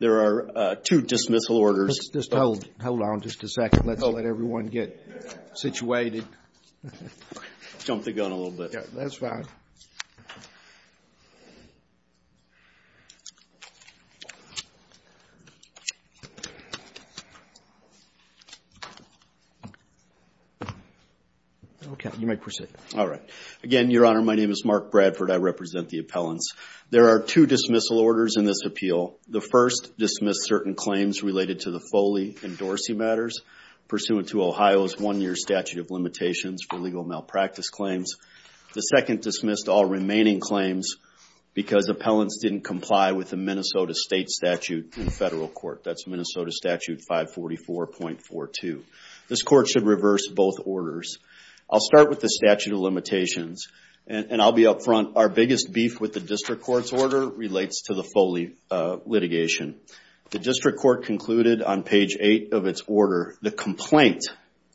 There are two dismissal orders in this appeal. The first dismissed certain claims related to the Foley and Dorsey matters pursuant to Ohio's one-year statute of limitations for legal malpractice claims. The second dismissed all remaining claims because appellants didn't comply with the Minnesota State Statute in federal court. That's Minnesota Statute 544.42. This court should reverse both orders. I'll start with the statute of limitations and I'll be upfront. Our biggest beef with the district court's order relates to the Foley litigation. The district court concluded on page 8 of its order, the complaint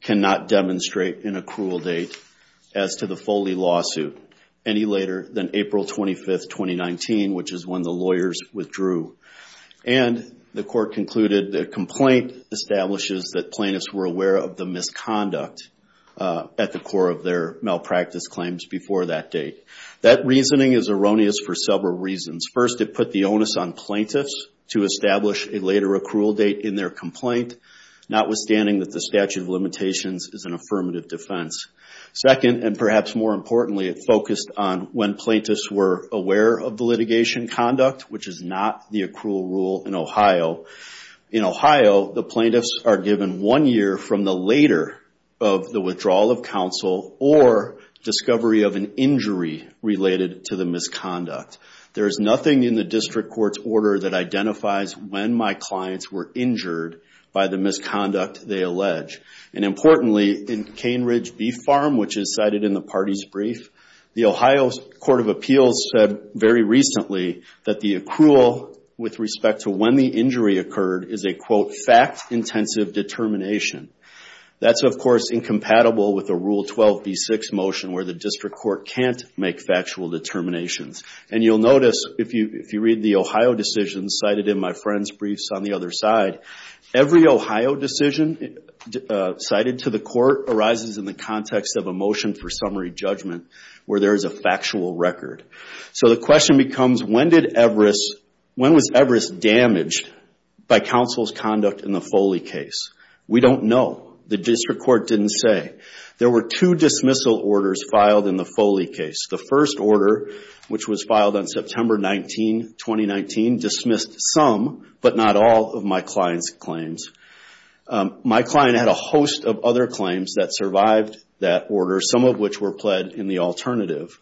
cannot demonstrate in a cruel date as to the Foley lawsuit any later than April 25, 2019, which is when the lawyers withdrew. And the court concluded the complaint establishes that plaintiffs were aware of the misconduct at the core of their malpractice claims before that date. That reasoning is erroneous for several reasons. First, it put the onus on plaintiffs to establish a later accrual date in their complaint, notwithstanding that the statute of limitations is an affirmative defense. Second, and perhaps more importantly, it focused on when plaintiffs were aware of the litigation conduct, which is not the accrual rule in Ohio. In Ohio, the plaintiffs are given one year from the later of the withdrawal of counsel or discovery of an injury related to the misconduct. There is nothing in the district court's order that identifies when my clients were injured by the misconduct they allege. And importantly, in Cane Ridge Beef Farm, which is cited in the party's brief, the Ohio Court of Appeals said very recently that the accrual with respect to when the injury occurred is a, quote, fact-intensive determination. That's, of course, incompatible with a Rule 12b6 motion where the district court can't make factual determinations. And you'll notice if you read the Ohio decision cited in my friend's briefs on the other side, every Ohio decision cited to the court arises in the context of a motion for summary judgment where there is a factual record. So the question becomes, when was Everest damaged by counsel's conduct in the Foley case? We don't know. The district court didn't say. There were two dismissal orders filed in the Foley case. The first order, which was filed on September 19, 2019, dismissed some, but not all, of my client's claims. My client had a host of other claims that survived that order, some of which were pled in the alternative.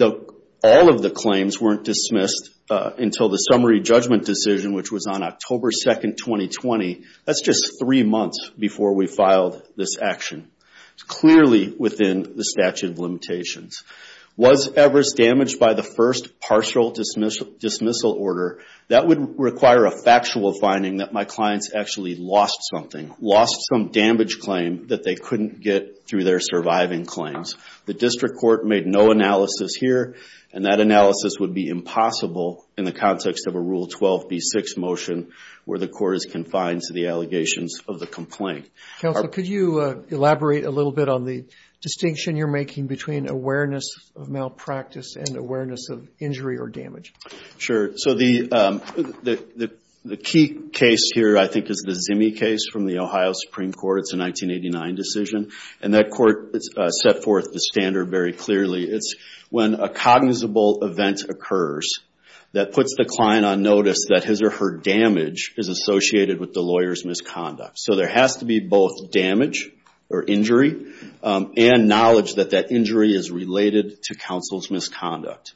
All of the claims weren't dismissed until the summary judgment decision, which was on October 2, 2020. That's just three months before we filed this action. It's clearly within the statute of limitations. Was Everest damaged by the first partial dismissal order? That would require a factual finding that my client's actually lost something, lost some damage claim that they couldn't get through their surviving claims. The district court made no analysis here, and that analysis would be impossible in the context of a Rule 12b6 motion where the court is confined to the allegations of the complaint. Counsel, could you elaborate a little bit on the distinction you're making between awareness of malpractice and awareness of injury or damage? Sure. So the key case here, I think, is the Zimme case from the Ohio Supreme Court. It's a 1989 decision, and that court set forth the standard very clearly. It's when a cognizable event occurs that puts the client on notice that his or her damage is associated with the lawyer's misconduct. So there has to be both damage or injury and knowledge that that injury is related to counsel's misconduct.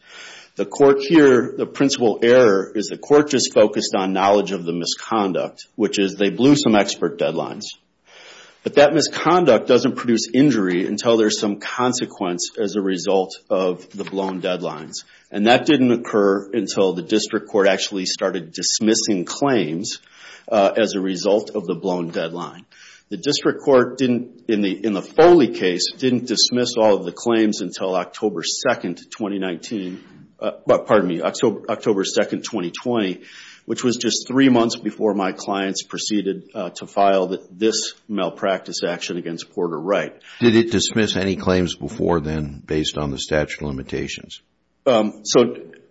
The court here, the principal error is the court just focused on knowledge of the misconduct, which is they blew some expert deadlines. But that misconduct doesn't produce injury until there's some consequence as a result of the blown deadlines. And that didn't occur until the district court actually started dismissing claims as a result of the blown deadline. The district court, in the Foley case, didn't dismiss all of the claims until October 2, 2019. Pardon me, October 2, 2020, which was just three months before my clients proceeded to file this malpractice action against Porter Wright. Did it dismiss any claims before then based on the statute of limitations? So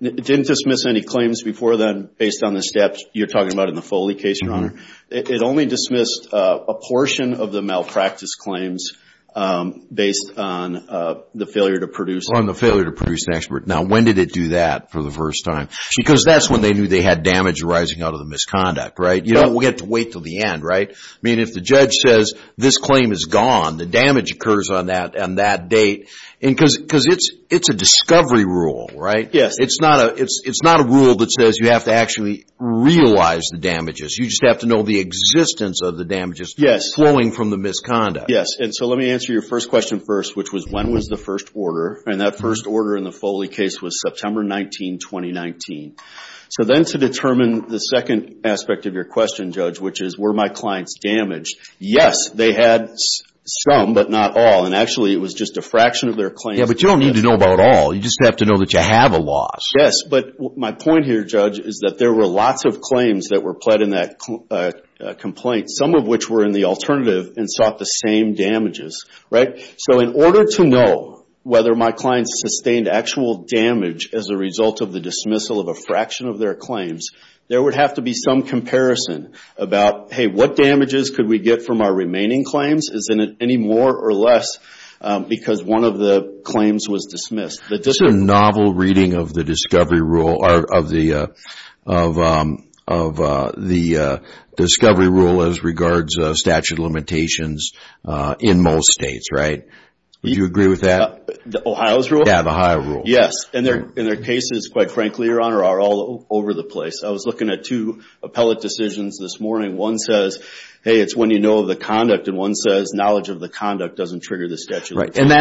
it didn't dismiss any claims before then based on the steps you're talking about in the Foley case, Your Honor. It only dismissed a portion of the malpractice claims based on the failure to produce. Now, when did it do that for the first time? Because that's when they knew they had damage arising out of the misconduct, right? You don't get to wait until the end, right? I mean, if the judge says this claim is gone, the damage occurs on that date, because it's a discovery rule, right? Yes. It's not a rule that says you have to actually realize the damages. You just have to know the existence of the damages flowing from the misconduct. Yes. And so let me answer your first question first, which was, when was the first order? And that first order in the Foley case was September 19, 2019. So then to determine the second aspect of your question, Judge, which is, were my clients damaged? Yes, they had some, but not all. And actually, it was just a fraction of their claims. Yeah, but you don't need to know about all. You just have to know that you have a loss. Yes, but my point here, Judge, is that there were lots of claims that were pled in that complaint, some of which were in the alternative and sought the same damages, right? So in order to know whether my clients sustained actual damage as a result of the dismissal of a fraction of their claims, there would have to be some comparison about, hey, what damages could we get from our remaining claims? Is it any more or less because one of the claims was dismissed? This is a novel reading of the discovery rule as regards statute of limitations in most states, right? Would you agree with that? Ohio's rule? Yeah, the Ohio rule. Yes, and their cases, quite frankly, Your Honor, are all over the place. I was looking at two appellate decisions this morning. One says, hey, it's when you know the conduct, and one says knowledge of the conduct doesn't trigger the statute of limitations. Right, and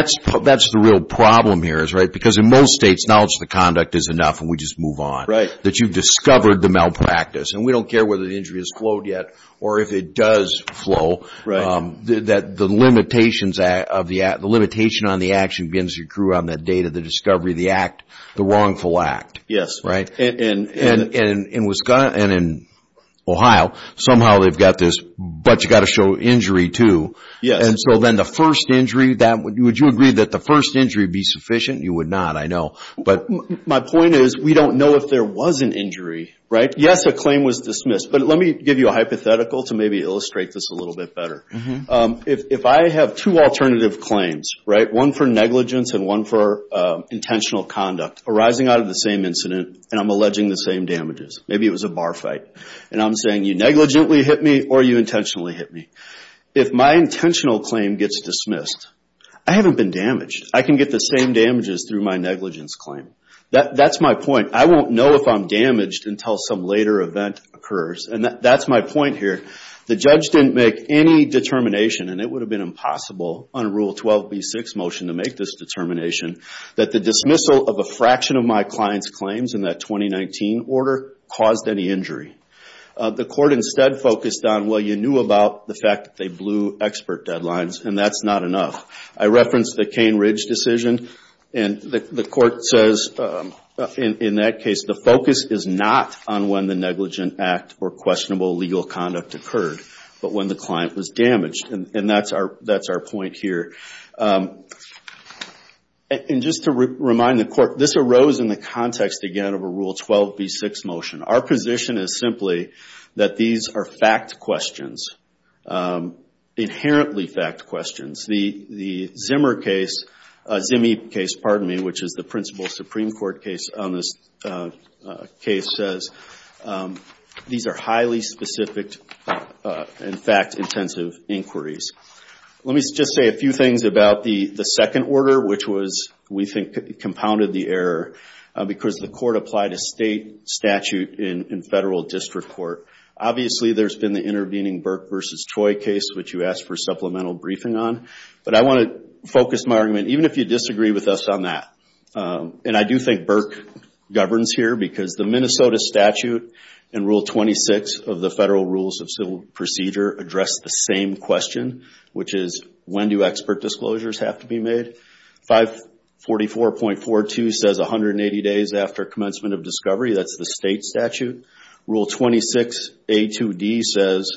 that's the real problem here, right? Because in most states, knowledge of the conduct is enough, and we just move on. Right. That you've discovered the malpractice, and we don't care whether the injury has flowed yet or if it does flow. Right. The limitation on the action begins to accrue on the date of the discovery of the act, the wrongful act. Yes. Right? And in Ohio, somehow they've got this, but you've got to show injury too. Yes. And so then the first injury, would you agree that the first injury would be sufficient? You would not, I know. But my point is we don't know if there was an injury, right? Yes, a claim was dismissed, but let me give you a hypothetical to maybe illustrate this a little bit better. If I have two alternative claims, right, one for negligence and one for intentional conduct arising out of the same incident, and I'm alleging the same damages, maybe it was a bar fight, and I'm saying you negligently hit me or you intentionally hit me. If my intentional claim gets dismissed, I haven't been damaged. I can get the same damages through my negligence claim. That's my point. I won't know if I'm damaged until some later event occurs, and that's my point here. The judge didn't make any determination, and it would have been impossible on Rule 12b6 motion to make this determination, that the dismissal of a fraction of my client's claims in that 2019 order caused any injury. The court instead focused on, well, you knew about the fact that they blew expert deadlines, and that's not enough. I referenced the Cain Ridge decision, and the court says in that case the focus is not on when the negligent act or questionable legal conduct occurred, but when the client was damaged, and that's our point here. And just to remind the court, this arose in the context, again, of a Rule 12b6 motion. Our position is simply that these are fact questions, inherently fact questions. The Zimmer case, Zimme case, pardon me, which is the principal Supreme Court case on this case, says these are highly specific and fact-intensive inquiries. Let me just say a few things about the second order, which we think compounded the error, because the court applied a state statute in federal district court. Obviously, there's been the intervening Burke v. Choi case, which you asked for supplemental briefing on, but I want to focus my argument, even if you disagree with us on that, and I do think Burke governs here because the Minnesota statute in Rule 26 of the Federal Rules of Civil Procedure addressed the same question, which is when do expert disclosures have to be made. 544.42 says 180 days after commencement of discovery. That's the state statute. Rule 26A2D says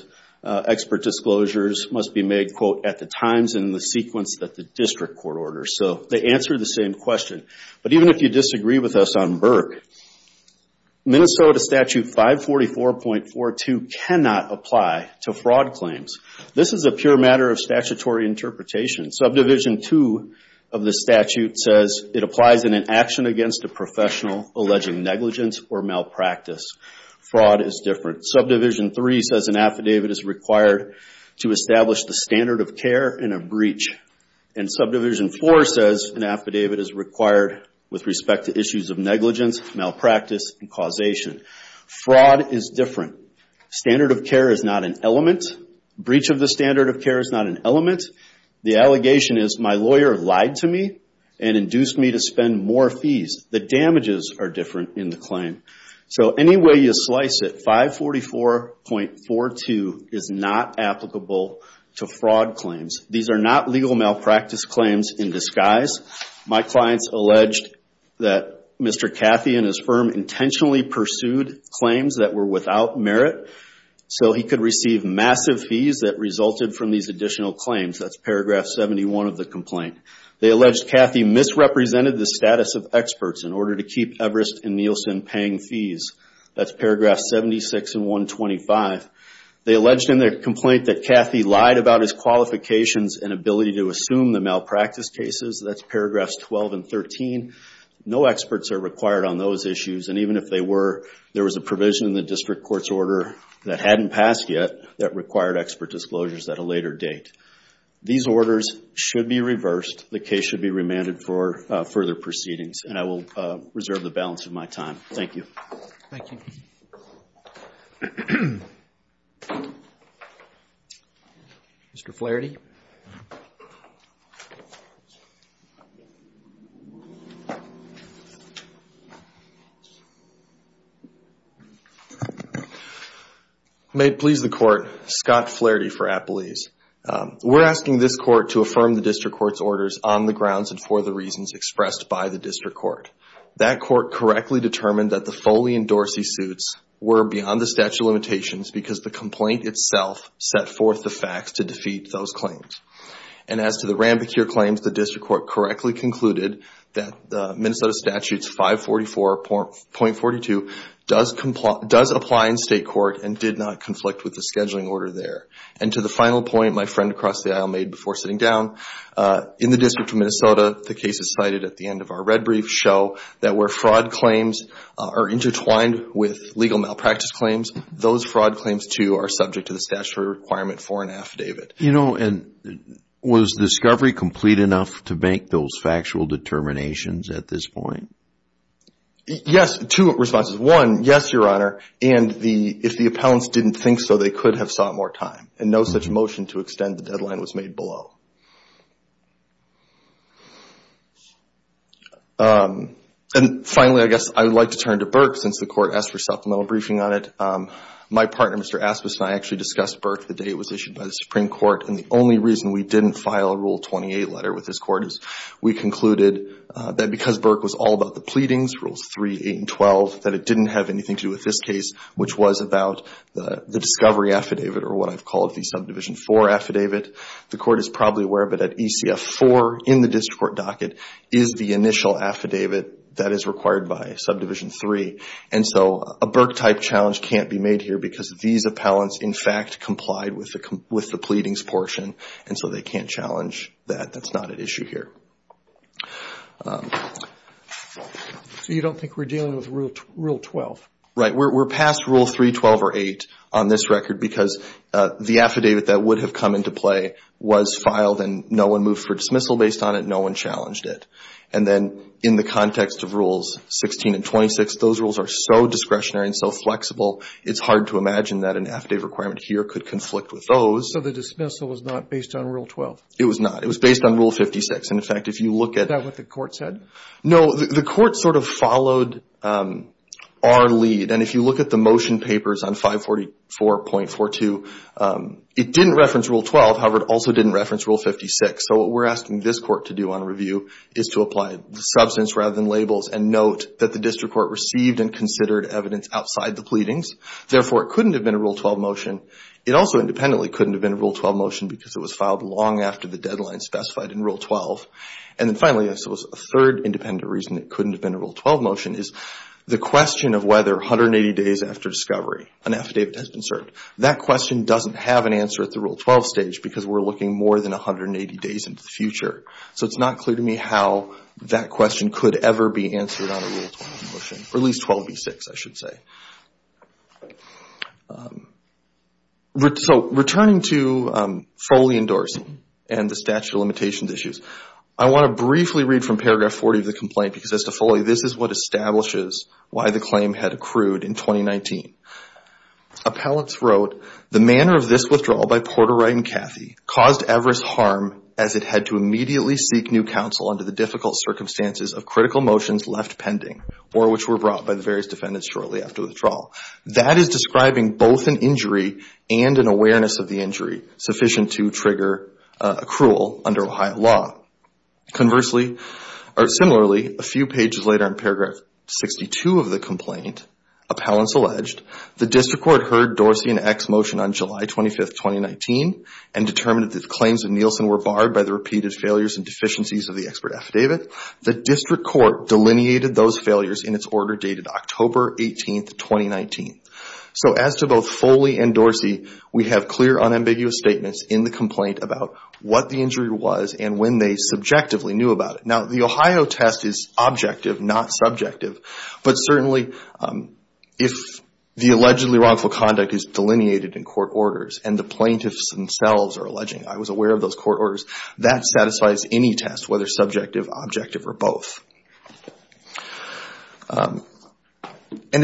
expert disclosures must be made, quote, at the times and in the sequence that the district court orders. So they answer the same question. But even if you disagree with us on Burke, Minnesota statute 544.42 cannot apply to fraud claims. This is a pure matter of statutory interpretation. Subdivision 2 of the statute says it applies in an action against a professional alleging negligence or malpractice. Fraud is different. Subdivision 3 says an affidavit is required to establish the standard of care in a breach, and Subdivision 4 says an affidavit is required with respect to issues of negligence, malpractice, and causation. Fraud is different. Standard of care is not an element. Breach of the standard of care is not an element. The allegation is my lawyer lied to me and induced me to spend more fees. The damages are different in the claim. So any way you slice it, 544.42 is not applicable to fraud claims. These are not legal malpractice claims in disguise. My clients alleged that Mr. Cathy and his firm intentionally pursued claims that were without merit so he could receive massive fees that resulted from these additional claims. That's Paragraph 71 of the complaint. They alleged Cathy misrepresented the status of experts in order to keep Everest and Nielsen paying fees. That's Paragraph 76 and 125. They alleged in their complaint that Cathy lied about his qualifications and ability to assume the malpractice cases. That's Paragraphs 12 and 13. No experts are required on those issues, and even if they were, there was a provision in the district court's order that hadn't passed yet that required expert disclosures at a later date. These orders should be reversed. The case should be remanded for further proceedings, and I will reserve the balance of my time. Thank you. Thank you. Mr. Flaherty. May it please the Court, Scott Flaherty for Appalese. We're asking this Court to affirm the district court's orders on the grounds and for the reasons expressed by the district court. That court correctly determined that the Foley and Dorsey suits were beyond the statute of limitations because the complaint itself set forth the facts to defeat those claims. And as to the Ranbocure claims, the district court correctly concluded that Minnesota Statutes 544.42 does apply in state court and did not conflict with the scheduling order there. And to the final point my friend across the aisle made before sitting down, in the District of Minnesota, the cases cited at the end of our red brief show that where fraud claims are intertwined with legal malpractice claims, those fraud claims too are subject to the statutory requirement for an affidavit. You know, and was discovery complete enough to make those factual determinations at this point? Yes, two responses. One, yes, Your Honor, and if the appellants didn't think so, they could have sought more time. And no such motion to extend the deadline was made below. And finally, I guess I would like to turn to Burke since the Court asked for supplemental briefing on it. My partner, Mr. Aspis, and I actually discussed Burke the day it was issued by the Supreme Court. And the only reason we didn't file a Rule 28 letter with this Court is we concluded that because Burke was all about the pleadings, Rules 3, 8, and 12, that it didn't have anything to do with this case, which was about the discovery affidavit or what I've called the Subdivision 4 affidavit. The Court is probably aware of it at ECF 4 in the District Court docket is the initial affidavit that is required by Subdivision 3. And so a Burke-type challenge can't be made here because these appellants, in fact, complied with the pleadings portion, and so they can't challenge that. That's not at issue here. So you don't think we're dealing with Rule 12? Right. We're past Rule 3, 12, or 8 on this record because the affidavit that would have come into play was filed, and no one moved for dismissal based on it. No one challenged it. And then in the context of Rules 16 and 26, those rules are so discretionary and so flexible, it's hard to imagine that an affidavit requirement here could conflict with those. So the dismissal was not based on Rule 12? It was not. It was based on Rule 56. In fact, if you look at... Is that what the Court said? No. The Court sort of followed our lead, and if you look at the motion papers on 544.42, it didn't reference Rule 12. However, it also didn't reference Rule 56. So what we're asking this Court to do on review is to apply substance rather than labels and note that the District Court received and considered evidence outside the pleadings. Therefore, it couldn't have been a Rule 12 motion. It also independently couldn't have been a Rule 12 motion because it was filed long after the deadline specified in Rule 12. And then finally, a third independent reason it couldn't have been a Rule 12 motion is the question of whether or not it was conserved. That question doesn't have an answer at the Rule 12 stage because we're looking more than 180 days into the future. So it's not clear to me how that question could ever be answered on a Rule 12 motion, or at least 12b6, I should say. So returning to Foley endorsing and the statute of limitations issues, I want to briefly read from paragraph 40 of the complaint because as to Foley, this is what establishes why the claim had accrued in 2019. Appellants wrote, the manner of this withdrawal by Porter, Wright, and Cathy caused Everest harm as it had to immediately seek new counsel under the difficult circumstances of critical motions left pending or which were brought by the various defendants shortly after withdrawal. That is describing both an injury and an awareness of the injury sufficient to trigger accrual under Ohio law. Conversely, or similarly, a few pages later in paragraph 62 of the complaint, appellants alleged, the District Court heard Dorsey and Eck's motion on July 25, 2019 and determined that claims of Nielsen were barred by the repeated failures and deficiencies of the expert affidavit. The District Court delineated those failures in its order dated October 18, 2019. So as to both Foley and Dorsey, we have clear unambiguous statements in the complaint about what the injury was and when they subjectively knew about it. Now, the Ohio test is objective, not subjective, but certainly if the allegedly wrongful conduct is delineated in court orders and the plaintiffs themselves are alleging, I was aware of those court orders, that satisfies any test whether subjective, objective, or both. And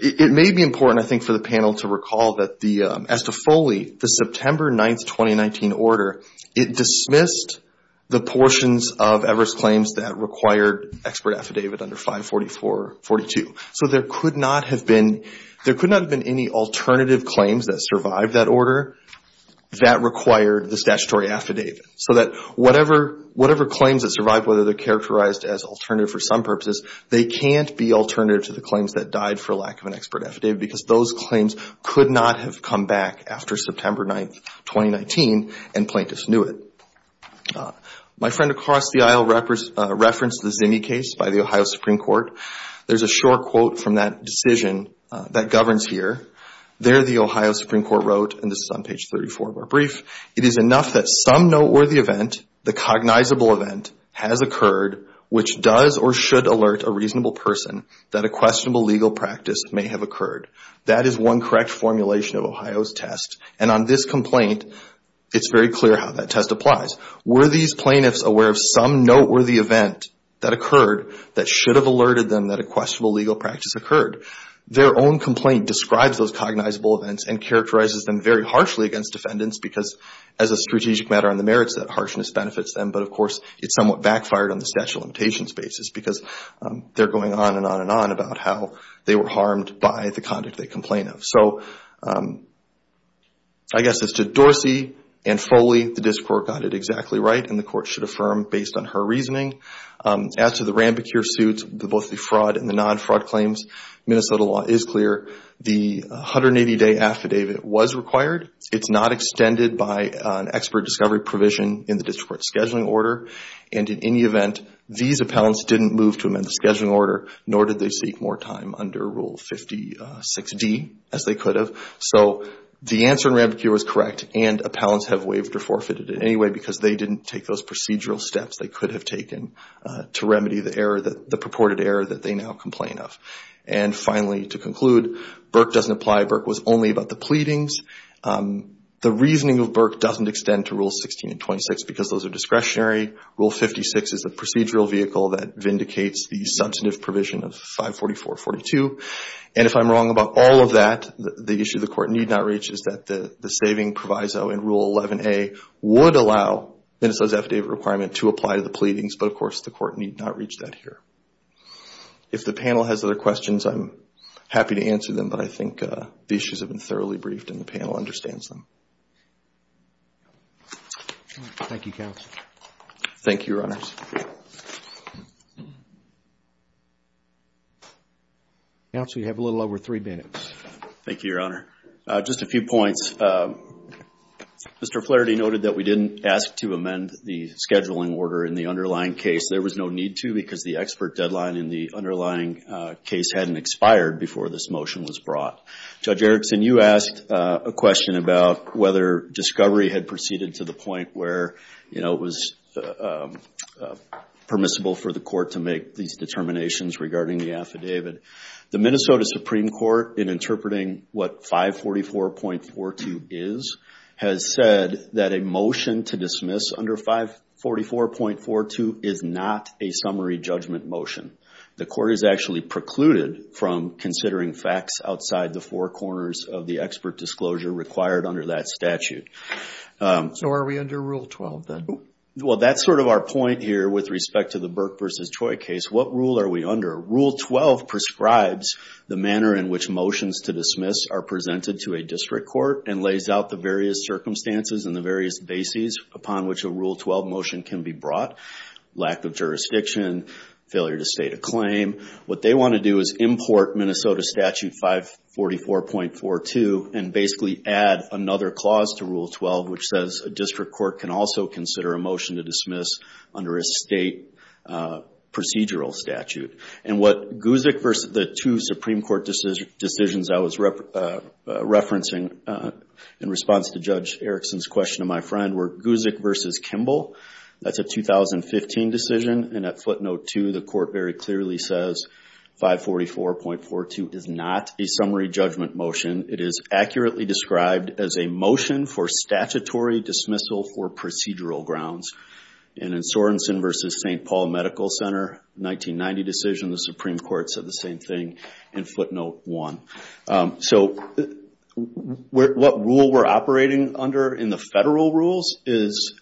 it may be important, I think, for the panel to recall that as to Foley, the September 9, 2019 order, it dismissed the portions of Everest claims that required expert affidavit under 544-42. So there could not have been any alternative claims that survived that order that required the statutory affidavit. So that whatever claims that survived, whether they're characterized as alternative for some purposes, they can't be alternative to the claims that died for lack of an expert affidavit because those claims could not have come back after September 9, 2019 and plaintiffs knew it. My friend across the aisle referenced the Zinni case by the Ohio Supreme Court. There's a short quote from that decision that governs here. There the Ohio Supreme Court wrote, and this is on page 34 of our brief, That is one correct formulation of Ohio's test and on this complaint, it's very clear how that test applies. Were these plaintiffs aware of some noteworthy event that occurred that should have alerted them that a questionable legal practice occurred? Their own complaint describes those cognizable events and characterizes them very harshly against defendants because as a strategic matter on the merits, that harshness benefits them. But of course, it somewhat backfired on the statute of limitations basis because they're going on and on and on about how they were harmed by the conduct they complain of. So I guess as to Dorsey and Foley, the district court got it exactly right and the court should affirm based on her reasoning. As to the Rambicure suits, both the fraud and the non-fraud claims, Minnesota law is clear. The 180-day affidavit was required. It's not extended by an expert discovery provision in the district court scheduling order. And in any event, these appellants didn't move to amend the scheduling order nor did they seek more time under Rule 56D as they could have. So the answer in Rambicure was correct and appellants have waived or forfeited it anyway because they didn't take those procedural steps they could have taken to remedy the error, the purported error that they now complain of. And finally, to conclude, Burke doesn't apply. Burke was only about the pleadings. The reasoning of Burke doesn't extend to Rules 16 and 26 because those are discretionary. Rule 56 is the procedural vehicle that vindicates the substantive provision of 544.42. And if I'm wrong about all of that, the issue the court need not reach is that the saving proviso in Rule 11A would allow Minnesota's affidavit requirement to apply to the pleadings, but of course, the court need not reach that here. If the panel has other questions, I'm happy to answer them, but I think the issues have been thoroughly briefed and the panel understands them. Thank you, counsel. Thank you, Your Honors. Counsel, you have a little over three minutes. Thank you, Your Honor. Just a few points. Mr. Flaherty noted that we didn't ask to amend the scheduling order in the underlying case. There was no need to because the expert deadline in the underlying case hadn't expired before this motion was brought. Judge Erickson, you asked a question about whether discovery had proceeded to the point where it was permissible for the court to make these determinations regarding the affidavit. The Minnesota Supreme Court, in interpreting what 544.42 is, has said that a motion to dismiss under 544.42 is not a summary judgment motion. The court is actually precluded from considering facts outside the four corners of the expert disclosure required under that statute. So are we under Rule 12, then? Well, that's sort of our point here with respect to the Burke v. Choi case. What rule are we under? Rule 12 prescribes the manner in which motions to dismiss are presented to a district court and lays out the various circumstances and the various bases upon which a Rule 12 motion can be brought. Lack of jurisdiction, failure to state a claim. What they want to do is import Minnesota statute 544.42 and basically add another clause to Rule 12, which says a district court can also consider a motion to dismiss under a state procedural statute. And what Guzik v. the two Supreme Court decisions I was referencing in response to Judge Erickson's question to my friend were Guzik v. Kimball. That's a 2015 decision. And at footnote 2, the court very clearly says 544.42 is not a summary judgment motion. It is accurately described as a motion for statutory dismissal for procedural grounds. And in Sorensen v. St. Paul Medical Center, 1990 decision, the Supreme Court said the same thing in footnote 1. So what rule we're operating under in the federal rules is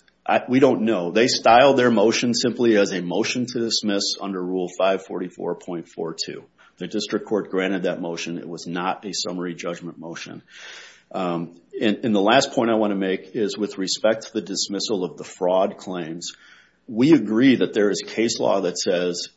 we don't know. They styled their motion simply as a motion to dismiss under Rule 544.42. The district court granted that motion. It was not a summary judgment motion. And the last point I want to make is with respect to the dismissal of the fraud claims, we agree that there is case law that says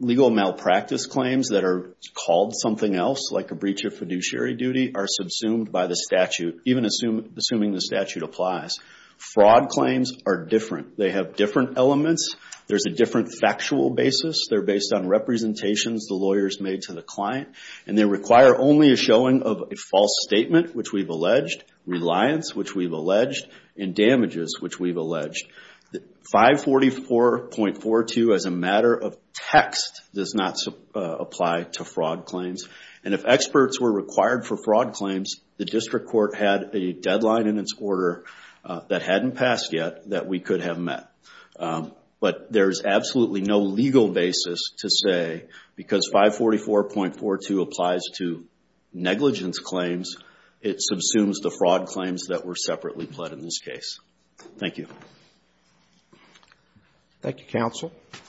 legal malpractice claims that are called something else, like a breach of fiduciary duty, are subsumed by the statute, even assuming the statute applies. Fraud claims are different. They have different elements. There's a different factual basis. They're based on representations the lawyers made to the client. And they require only a showing of a false statement, which we've alleged, reliance, which we've alleged, and damages, which we've alleged. 544.42 as a matter of text does not apply to fraud claims. And if experts were required for fraud claims, the district court had a deadline in its order that hadn't passed yet that we could have met. But there's absolutely no legal basis to say because 544.42 applies to negligence claims, it subsumes the fraud claims that were separately pled in this case. Thank you.